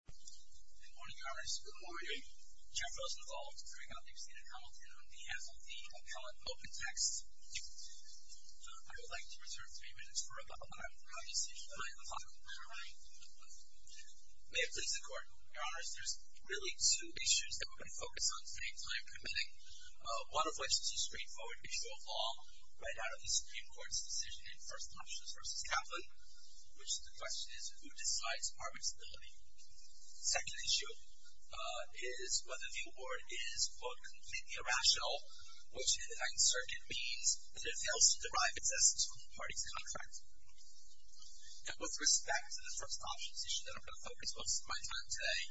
Good morning, Your Honors. Good morning. Chair Frosen calls for hearing on the extended Hamilton on behalf of the appellant, Open Text. I would like to reserve three minutes for a public comment. May it please the Court, Your Honors, there's really two issues that we're going to focus on today, so I am committing one of which is a straightforward case rule of law right out of the Supreme Court's decision in First Pontius v. Kaplan, which the question is who decides arbitrability. The second issue is whether the award is, quote, completely irrational, which in the Ninth Circuit means that it fails to derive its essence from the party's contract. Now, with respect to the first option decision that I'm going to focus most of my time today,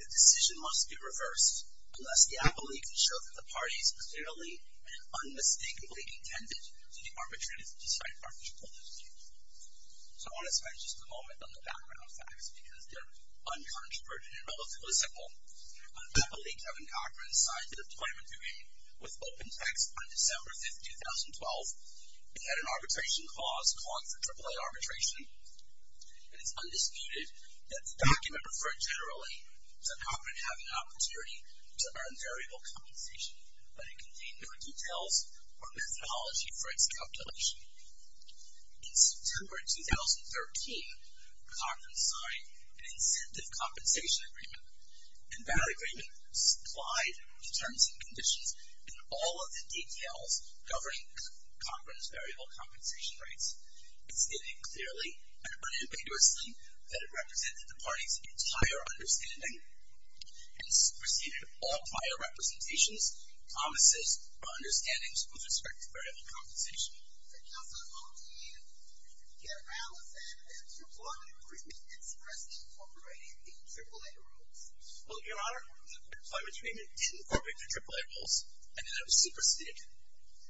the decision must be reversed unless the appellee can show that the party is clearly and unmistakably intended to do arbitrariness despite arbitrageability. So I want to spend just a moment on the background facts because they're uncontroverted and relatively simple. Appellee Kevin Cochran signed the Deployment Degree with Open Text on December 5, 2012. He had an arbitration clause calling for AAA arbitration. It is undisputed that the document referred generally to Cochran having an opportunity to earn variable compensation, but it contained no details or incentive compensation agreement, and that agreement supplied the terms and conditions and all of the details governing Cochran's variable compensation rights. It stated clearly and unambiguously that it represented the party's entire understanding and superseded all prior representations, promises, or understandings with respect to variable compensation. So just how did Kevin Allison and the Deployment Agreement expressly incorporate the AAA rules? Well, Your Honor, the Deployment Agreement did incorporate the AAA rules, and it was superseded.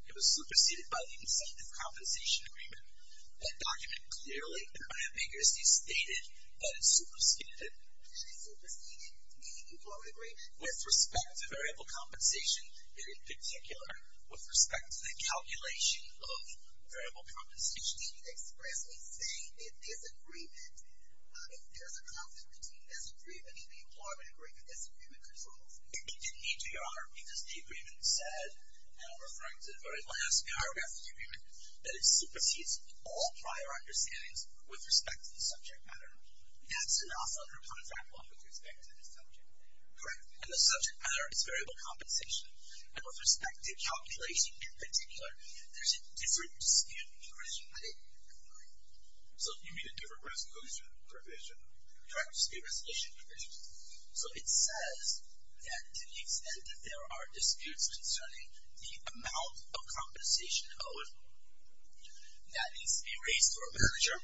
It was superseded by the incentive compensation agreement. That document clearly and unambiguously stated that it superseded it. And it superseded the Employment Agreement? With respect to variable compensation, and in particular with respect to the calculation of variable compensation. Did it expressly say in this agreement, if there's a conflict between this agreement and the Employment Agreement, this agreement controls? It did not, Your Honor, because the agreement said, and I'm referring to the very last paragraph of the agreement, that it supersedes all prior understandings with respect to the subject matter. That's an off-hundred-pundit fact law with respect to the subject matter? Correct. And the subject matter is variable compensation, and with respect to the calculation in particular, there's a different resolution, right? So you mean a different resolution provision? Correct, it's a resolution provision. So it says that to the extent that there are disputes concerning the amount of compensation owed, that needs to be raised to a manager,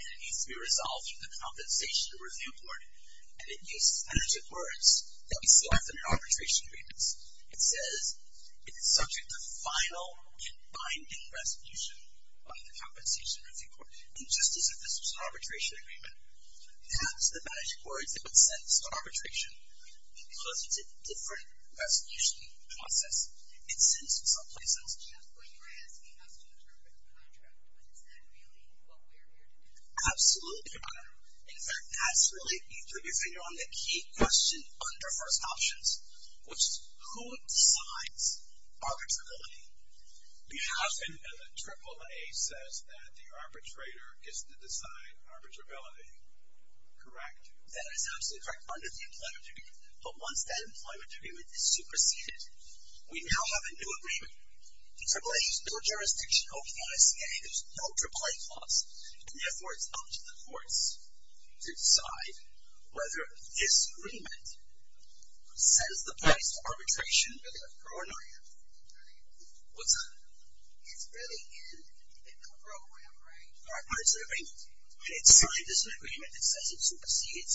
and it needs to be resolved through the compensation review board. And it uses a bunch of words that we see often in arbitration agreements. It says it's subject to final and binding resolution by the compensation review board. And just as if this was an arbitration agreement, it happens to the managing boards that would send this to arbitration, and because it's a different resolution process, it sends to someplace else. When you're asking us to interpret the contract, is that really what we're here to do? Absolutely, Your Honor. In fact, that's really, you put your finger on the key question under first options, which is who decides arbitrability? We have an AAA says that the arbitrator gets to decide arbitrability, correct? That is absolutely correct under the employment agreement. But once that employment agreement is superseded, we now have a new agreement. The AAA has no jurisdiction over the ICA. There's no AAA clause, and therefore it's up to the courts to decide whether this agreement sets the place for arbitration, whether it's pro or non- agreement. What's that? It's really in the pro or non-agreement. And it's signed as an agreement, it says it supersedes,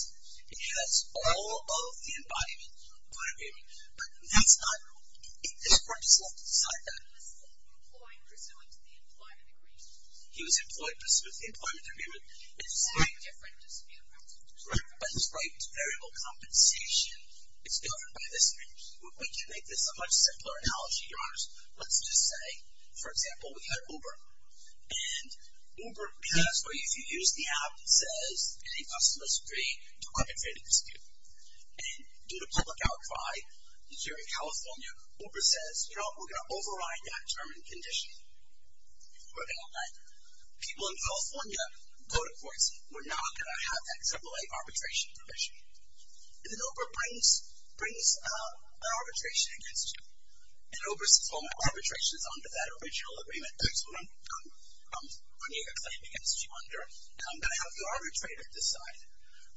it has all of the embodiment of an agreement. But that's not, the court doesn't have to decide that. He was employed pursuant to the employment agreement. He was employed pursuant to the employment agreement. By this right, it's variable compensation. It's governed by this right. We can make this a much simpler analogy, your honors. Let's just say, for example, we had Uber. And Uber, because if you use the app, it says any customer's free to arbitrate a dispute. And due to public outcry, here in California, Uber says, you know what, we're going to override that term and condition. We're going to let people in California go to courts. We're not going to have that separate arbitration provision. And then Uber brings an arbitration against you. And Uber says, well, my arbitration is under that original agreement. I'm going to come on your claim against you under, and I'm going to have the arbitrator decide.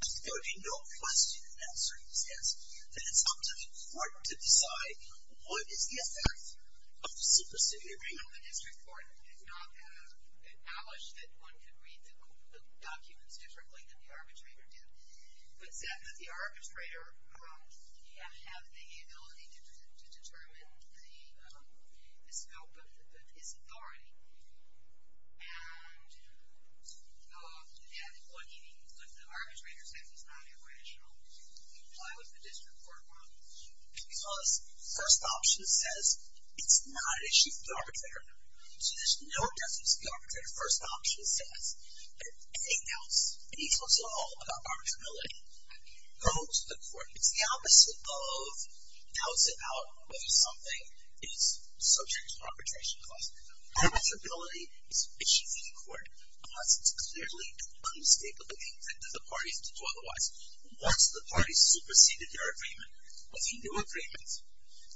There would be no question in that circumstance that it's up to the court to decide what is the effect of the superseding agreement. The District Court did not acknowledge that one could read the documents differently than the arbitrator did, but said that the arbitrator had the ability to determine the scope of his authority. And what the arbitrator said was not irrational. Why would the District Court want to do that? Because first option says it's not an issue for the arbitrator. So there's no definition of the arbitrator. First option says that anything else, anything at all about arbitrability, goes to the court. It's the opposite of doubts about whether something is subject to arbitration clause. Arbitrability is an issue for the court because it's clearly, unmistakably the effect of the parties to do otherwise. Once the parties superseded their agreement or the new agreement,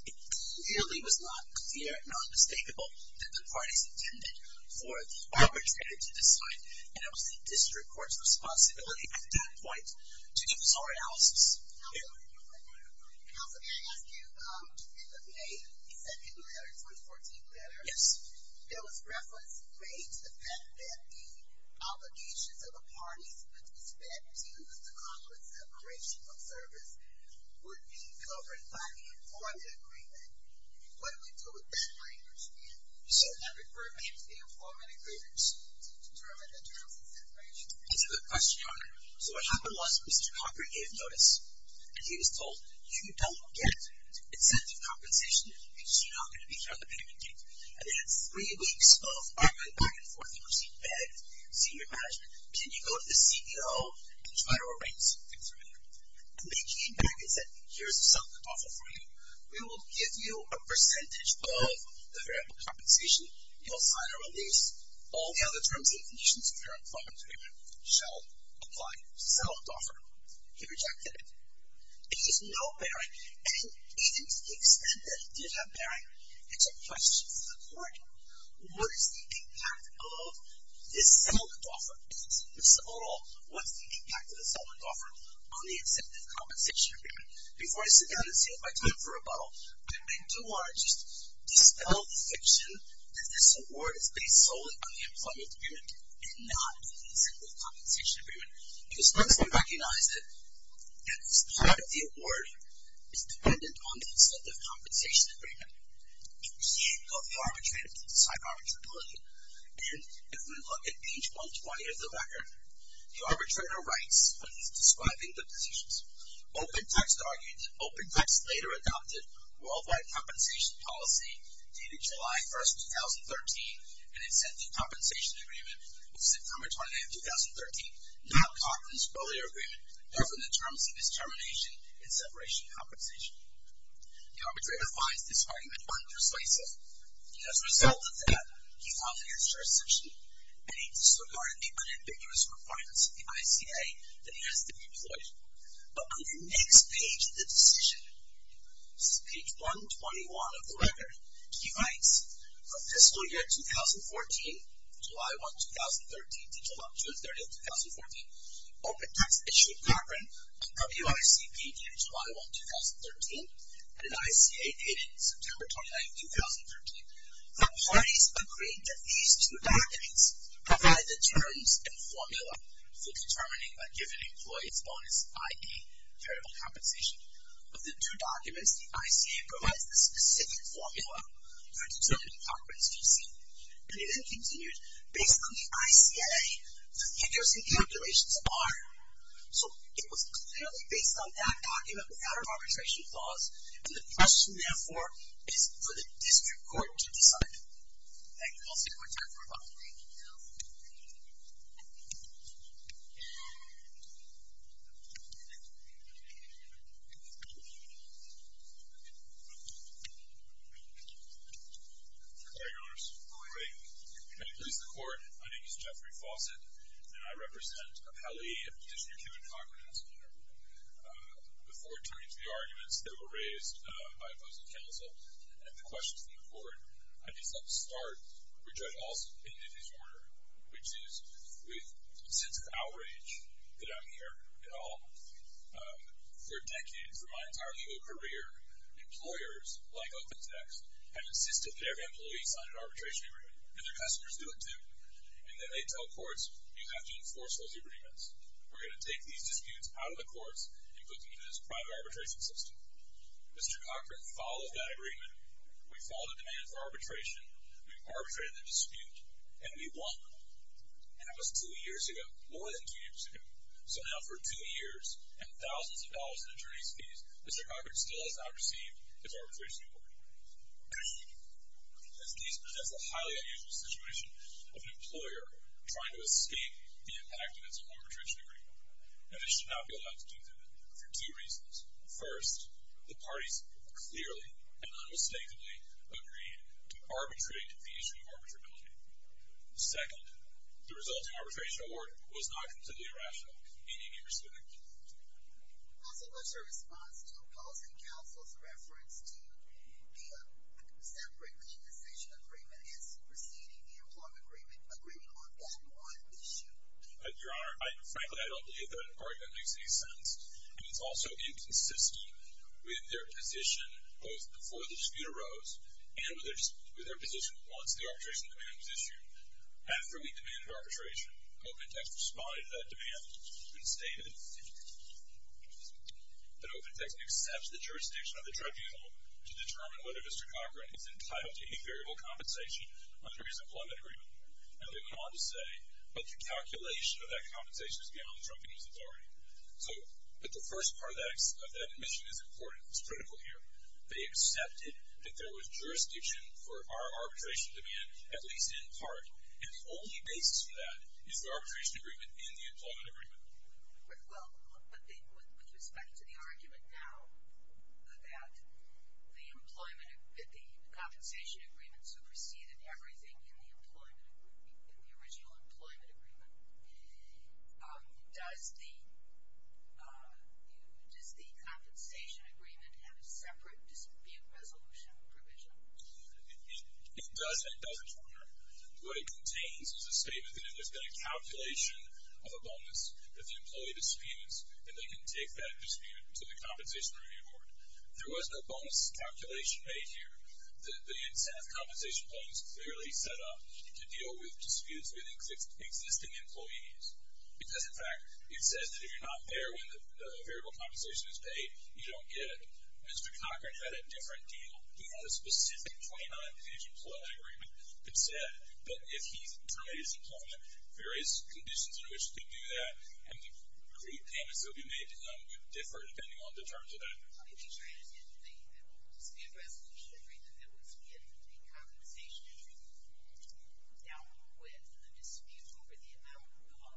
it clearly was not clear and unmistakable that the parties intended for the arbitrator to decide, and it was the District Court's responsibility at that point to give us our analysis. Yeah. And also, can I ask you, in the May 2nd letter, 2014 letter, Mr. Cochran's separation of service would be covered by the employment agreement. What do we do with that, I understand. Does that refer me to the employment agreement to determine the terms of separation of service? That's a good question, Your Honor. So what happened was Mr. Cochran gave notice, and he was told, you don't get incentive compensation because you're not going to be here on the payment date. And then three weeks of arguing back and forth, he actually begged senior management, can you go to the CBO and try to arrange something for me? And they came back and said, here's a self-offer for you. We will give you a percentage of the variable compensation. You'll sign a release. All the other terms and conditions of your employment agreement shall apply to the self-offer. He rejected it. It is no bearing, and even to the extent that it did have bearing, it's a question for the court. So what is the impact of this self-offer? First of all, what's the impact of the self-offer on the incentive compensation agreement? Before I sit down and save my time for rebuttal, I do want to just dispel the fiction that this award is based solely on the employment agreement and not on the incentive compensation agreement. Because first we recognize that part of the award is dependent on the incentive compensation agreement. In view of the arbitrator's psych-arbitrability, and if we look at page 120 of the record, the arbitrator writes when he's describing the decisions, open text argued, open text later adopted, worldwide compensation policy dated July 1, 2013, an incentive compensation agreement of September 29, 2013, not caught in this earlier agreement, nor from the terms of this termination and separation of compensation. The arbitrator finds this argument unpersuasive, and as a result of that, he often answers essentially, and he disregards the unambiguous requirements of the ICA that he has to employ. But on the next page of the decision, this is page 121 of the record, he writes for fiscal year 2014, July 1, 2013, open text issued, WICP dated July 1, 2013, and the ICA dated September 29, 2013. Companies agreed that these two documents provide the terms and formula for determining a given employee's bonus, i.e., terrible compensation. Of the two documents, the ICA provides the specific formula for determining compensation. And he then continues, basically ICA, the interesting calculations are, so it was clearly based on that document without arbitration clause, and the question, therefore, is for the district court to decide. Thank you. We'll take one more time for a vote. Thank you. All right, Your Honors. All right. May it please the Court. My name is Jeffrey Fawcett, and I represent Appellee and Petitioner Q in Congress. Before turning to the arguments that were raised by opposing counsel, and the questions from the Court, I'd just like to start with Judge Alston in his order, which is, with a sense of outrage, and a sense of dismay, that I'm here at all. For decades, for my entire legal career, employers, like Open Text, have insisted that every employee sign an arbitration agreement, and their customers do it, too. And then they tell courts, you have to enforce those agreements. We're going to take these disputes out of the courts and put them into this private arbitration system. Mr. Cochran followed that agreement. We followed a demand for arbitration. We arbitrated the dispute, and we won. And that was two years ago. More than two years ago. So now, for two years, and thousands of dollars in attorney's fees, Mr. Cochran still has not received his arbitration agreement. This is a highly unusual situation of an employer trying to escape the impact of its arbitration agreement. And this should not be allowed to continue for two reasons. First, the parties clearly and unmistakably agreed to arbitrate the issue of arbitrability. Second, the resulting arbitration award was not completely rational. And you need to respect that. How's the court's response to opposing counsel's reference to the separate composition agreement as superseding the employment agreement on that one issue? Your Honor, frankly, I don't believe that argument makes any sense. And it's also inconsistent with their position, both before the dispute arose and with their position once the arbitration demand was issued. After we demanded arbitration, Open Text responded to that demand and stated that Open Text accepts the jurisdiction of the Tribunal to determine whether Mr. Cochran is entitled to any variable compensation under his employment agreement. And they went on to say, but the calculation of that compensation is beyond the Trump administration's authority. So, but the first part of that admission is important. It's critical here. They accepted that there was jurisdiction for our arbitration demand, at least in part. And the only basis for that is the arbitration agreement and the employment agreement. But, well, with respect to the argument now that the compensation agreement superseded everything in the employment agreement, in the original employment agreement, does the compensation agreement have a separate dispute resolution provision? It doesn't. What it contains is a statement that there's been a calculation of a bonus that the employee disputes, and they can take that dispute to the Compensation Review Board. There was no bonus calculation made here. The incentive compensation plan is clearly set up to deal with disputes with existing employees. Because, in fact, it says that if you're not there when the variable compensation is paid, you don't get it. Mr. Cochran had a different deal. He had a specific 29-page employment agreement that said that if he terminates employment, various conditions in which he could do that and the accrued payments that would be made to him would differ depending on the terms of that. Let me make sure I understand. Is the dispute resolution agreement that was given a compensation agreement down with the dispute over the amount of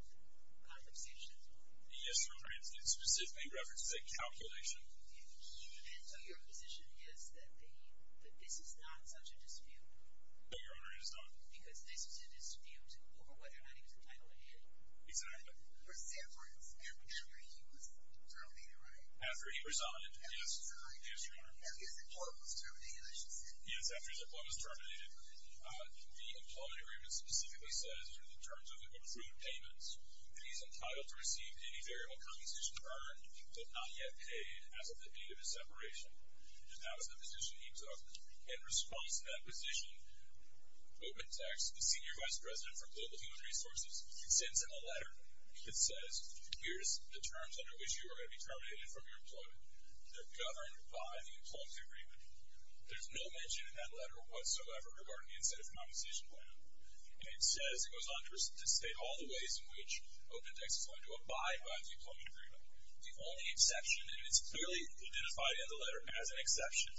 compensation? Yes, Your Honor. It specifically references a calculation. And so your position is that this is not such a dispute? No, Your Honor, it is not. Because this is a dispute over whether or not he was entitled to pay? Exactly. For example, it's after he was terminated, right? After he resigned, yes, Your Honor. After his employment was terminated, I should say. Yes, after his employment was terminated. The employment agreement specifically says in terms of the accrued payments that he's entitled to receive any variable compensation earned but not yet paid as of the date of his separation. And that was the position he took. In response to that position, OpenTex, the senior vice president for global human resources, sends him a letter that says, here's the terms under which you are going to be terminated from your employment. They're governed by the employment agreement. There's no mention in that letter whatsoever regarding the incentive compensation plan. And it says, it goes on to state all the ways in which OpenTex is going to abide by the employment agreement. The only exception, and it's clearly identified in the letter as an exception,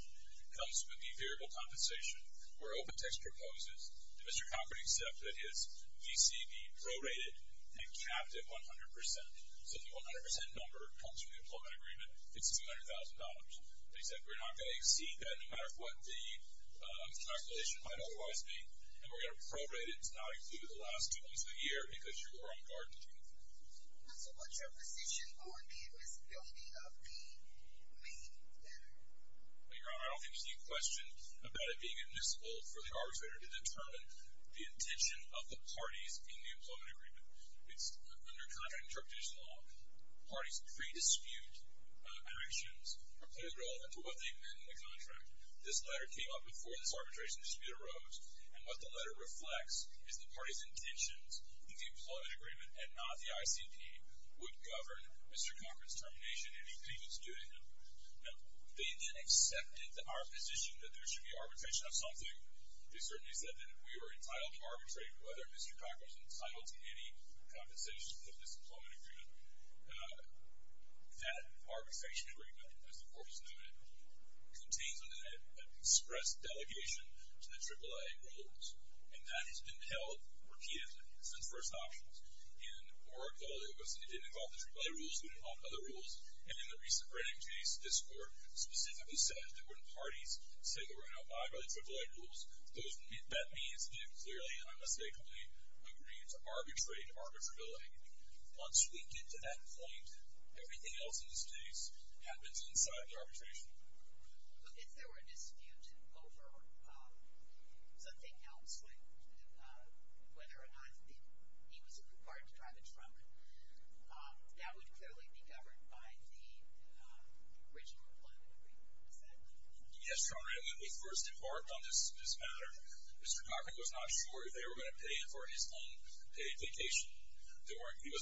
comes with the variable compensation where OpenTex proposes that Mr. Cochran accept that his VC be prorated and capped at 100%. So the 100% number comes from the employment agreement. It's $200,000. But he said, we're not going to exceed that no matter what the calculation might otherwise be. And we're going to prorate it to not include the last two months of the year because you are on guard duty. So what's your position on the admissibility of the main letter? Your Honor, I don't think there's any question about it being admissible for the arbitrator to determine the intention of the parties in the employment agreement. It's under contract interpretation law. Parties pre-dispute actions are clearly relevant to what they meant in the contract. This letter came up before this arbitration dispute arose. And what the letter reflects is the party's intentions that the employment agreement and not the ICP would govern Mr. Cochran's termination and impugnance due to him. Now, they then accepted our position that there should be arbitration of something. They certainly said that if we were entitled to arbitrate whether Mr. Cochran was entitled to any compensation for this employment agreement, that arbitration agreement, as the court has noted, contains an express delegation to the AAA rules. And that has been held repeatedly since first options. In Oracle, it didn't involve the AAA rules. It involved other rules. And in the recent Brennan case, this court specifically said that when parties say they were not liable to AAA rules, that means they clearly, and I must say completely, agreed to arbitrate arbitrability. Once we get to that point, everything else in this case happens inside the arbitration. But if there were a dispute over something else, whether or not he was required to drive a truck, that would clearly be governed by the original employment agreement. Is that correct? Yes, Your Honor, and when we first embarked on this matter, Mr. Cochran was not sure if they were going to pay for his own paid vacation. He wasn't sure if they were going to pay for certain other benefits that were called for in the employment agreement. If those things had not happened, there would have been part of this arbitration, and that would have all been subject to the employment agreement. At the end of the day, when it came time for that arbitration, the only issue in dispute was the variable compensation called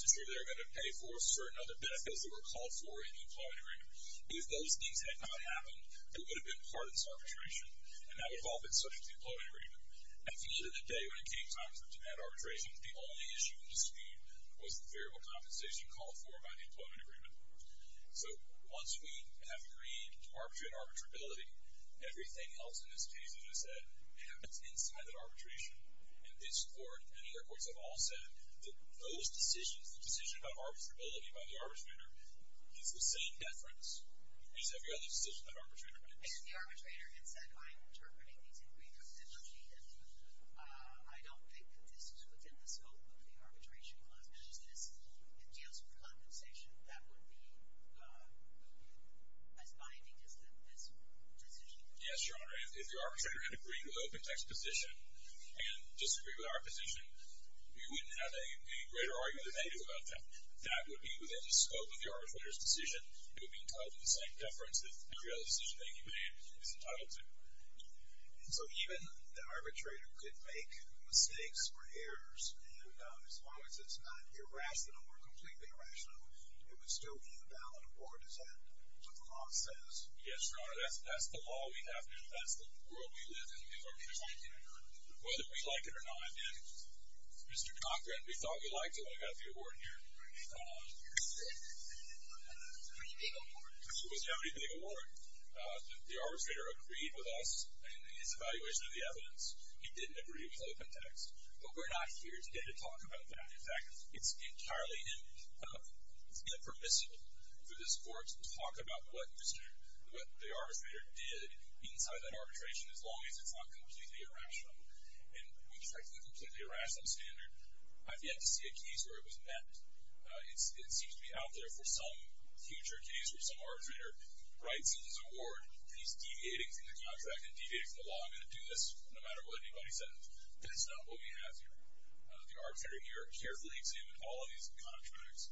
for by the employment agreement. So once we have agreed to arbitrate arbitrability, everything else in this case, as I said, happens inside that arbitration. And this court and other courts have all said that those decisions, the decision about arbitrability by the arbitrator, is the same deference as every other decision that arbitrator makes. And if the arbitrator had said, I'm interpreting these agreements differently, then I don't think that this is within the scope of the arbitration clause. If it deals with compensation, that would be as binding as this decision. Yes, Your Honor. If the arbitrator had agreed to the open text position and disagreed with our position, we wouldn't have a greater argument than they do about that. That would be within the scope of the arbitrator's decision. It would be entitled to the same deference as every other decision that he made. It's entitled to. So even if the arbitrator could make mistakes or errors, as long as it's not irrational or completely irrational, it would still be a valid award. Is that what the law says? Yes, Your Honor. That's the law we have now. That's the world we live in. Whether we like it or not, Mr. Cochran, we thought you liked it when we got the award here. It was a pretty big award. It was a pretty big award. The arbitrator agreed with us in his evaluation of the evidence. He didn't agree with open text. But we're not here today to talk about that. In fact, it's entirely impermissible for this Court to talk about what the arbitrator did inside that arbitration as long as it's not completely irrational. And when you say completely irrational standard, I've yet to see a case where it was met It seems to be out there for some future case where some arbitrator writes in his award and he's deviating from the contract and deviating from the law. I'm going to do this no matter what anybody says. That's not what we have here. The arbitrator here carefully examined all of these contracts,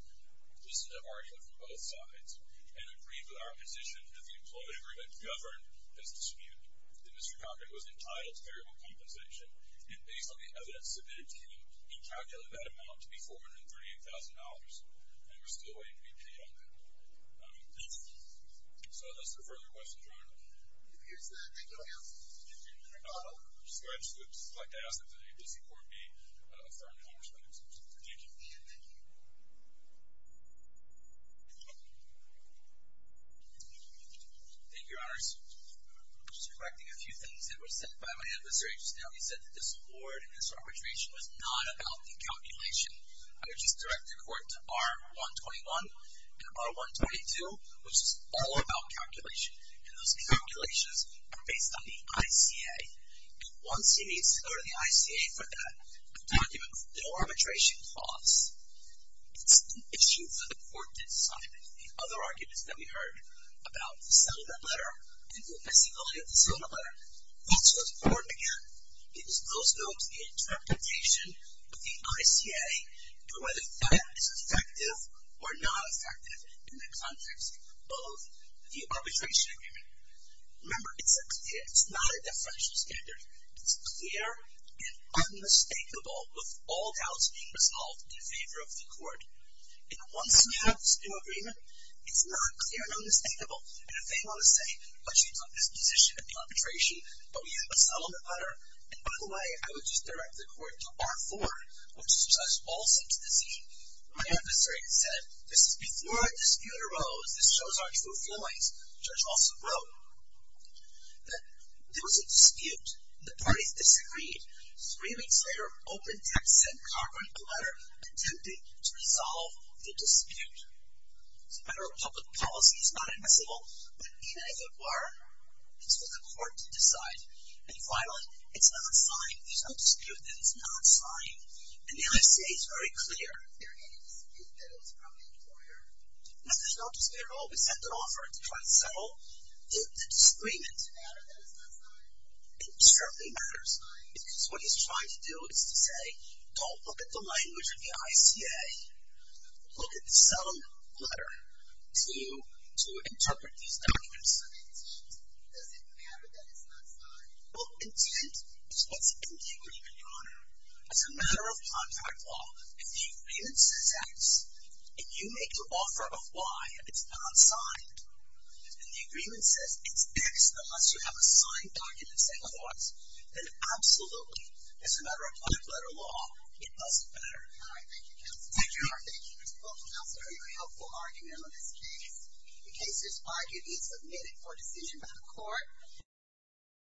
listened to arguments from both sides, and agreed with our position that the employment agreement governed as disputed. That Mr. Cochran was entitled to variable compensation and based on the evidence submitted to him he calculated that amount to be $438,000 and we're still waiting to be paid on that. So those are the further questions, Your Honor. If there's none, thank you, Your Honor. I'd just like to ask that this report be affirmed in all respects. Thank you. Thank you, Your Honors. I'm just collecting a few things that were said by my adversary just now. He said that this award and this arbitration was not about the calculation. I would just direct the Court to R-121 and R-122 which is all about calculation and those calculations are based on the ICA and once he needs to go to the ICA for that document, no arbitration clause. It's an issue that the Court did sign and the other arguments that we heard about the settlement letter and the missability of the settlement letter that's what's important again. It is close known to the interpretation of the ICA to whether that is effective or not effective in the context of the arbitration agreement. Remember, it's not a deferential standard. It's clear and unmistakable with all doubts being resolved in favor of the Court and once you have this new agreement it's not clear and unmistakable and if they want to say, well she's on this position of the arbitration but we have a settlement letter and by the way, I would just direct the Court to R-4 which discusses all such decisions. My adversary said, this is before a dispute arose this shows our true feelings. The judge also wrote that there was a dispute Three weeks later, open text said covering the letter attempted to resolve the dispute. It's a matter of public policy it's not admissible but even if it were it's for the Court to decide and finally, it's not signed. There's no dispute that it's not signed and the ICA is very clear. No, there's no dispute at all. We sent an offer to try and settle the disagreement. It certainly matters because what he's trying to do is to say, don't look at the language of the ICA look at the settlement letter to interpret these documents. Does it matter that it's not signed? Well, intent is what's in the agreement, Your Honor. It's a matter of contract law. If the agreement says X and you make the offer of Y and it's not signed and the agreement says it's X unless you have a signed document saying otherwise then absolutely it's a matter of contract letter law. Thank you, Counselor. Thank you. Counselor, you're a helpful argument on this case. The case is argued and submitted for decision by the Court.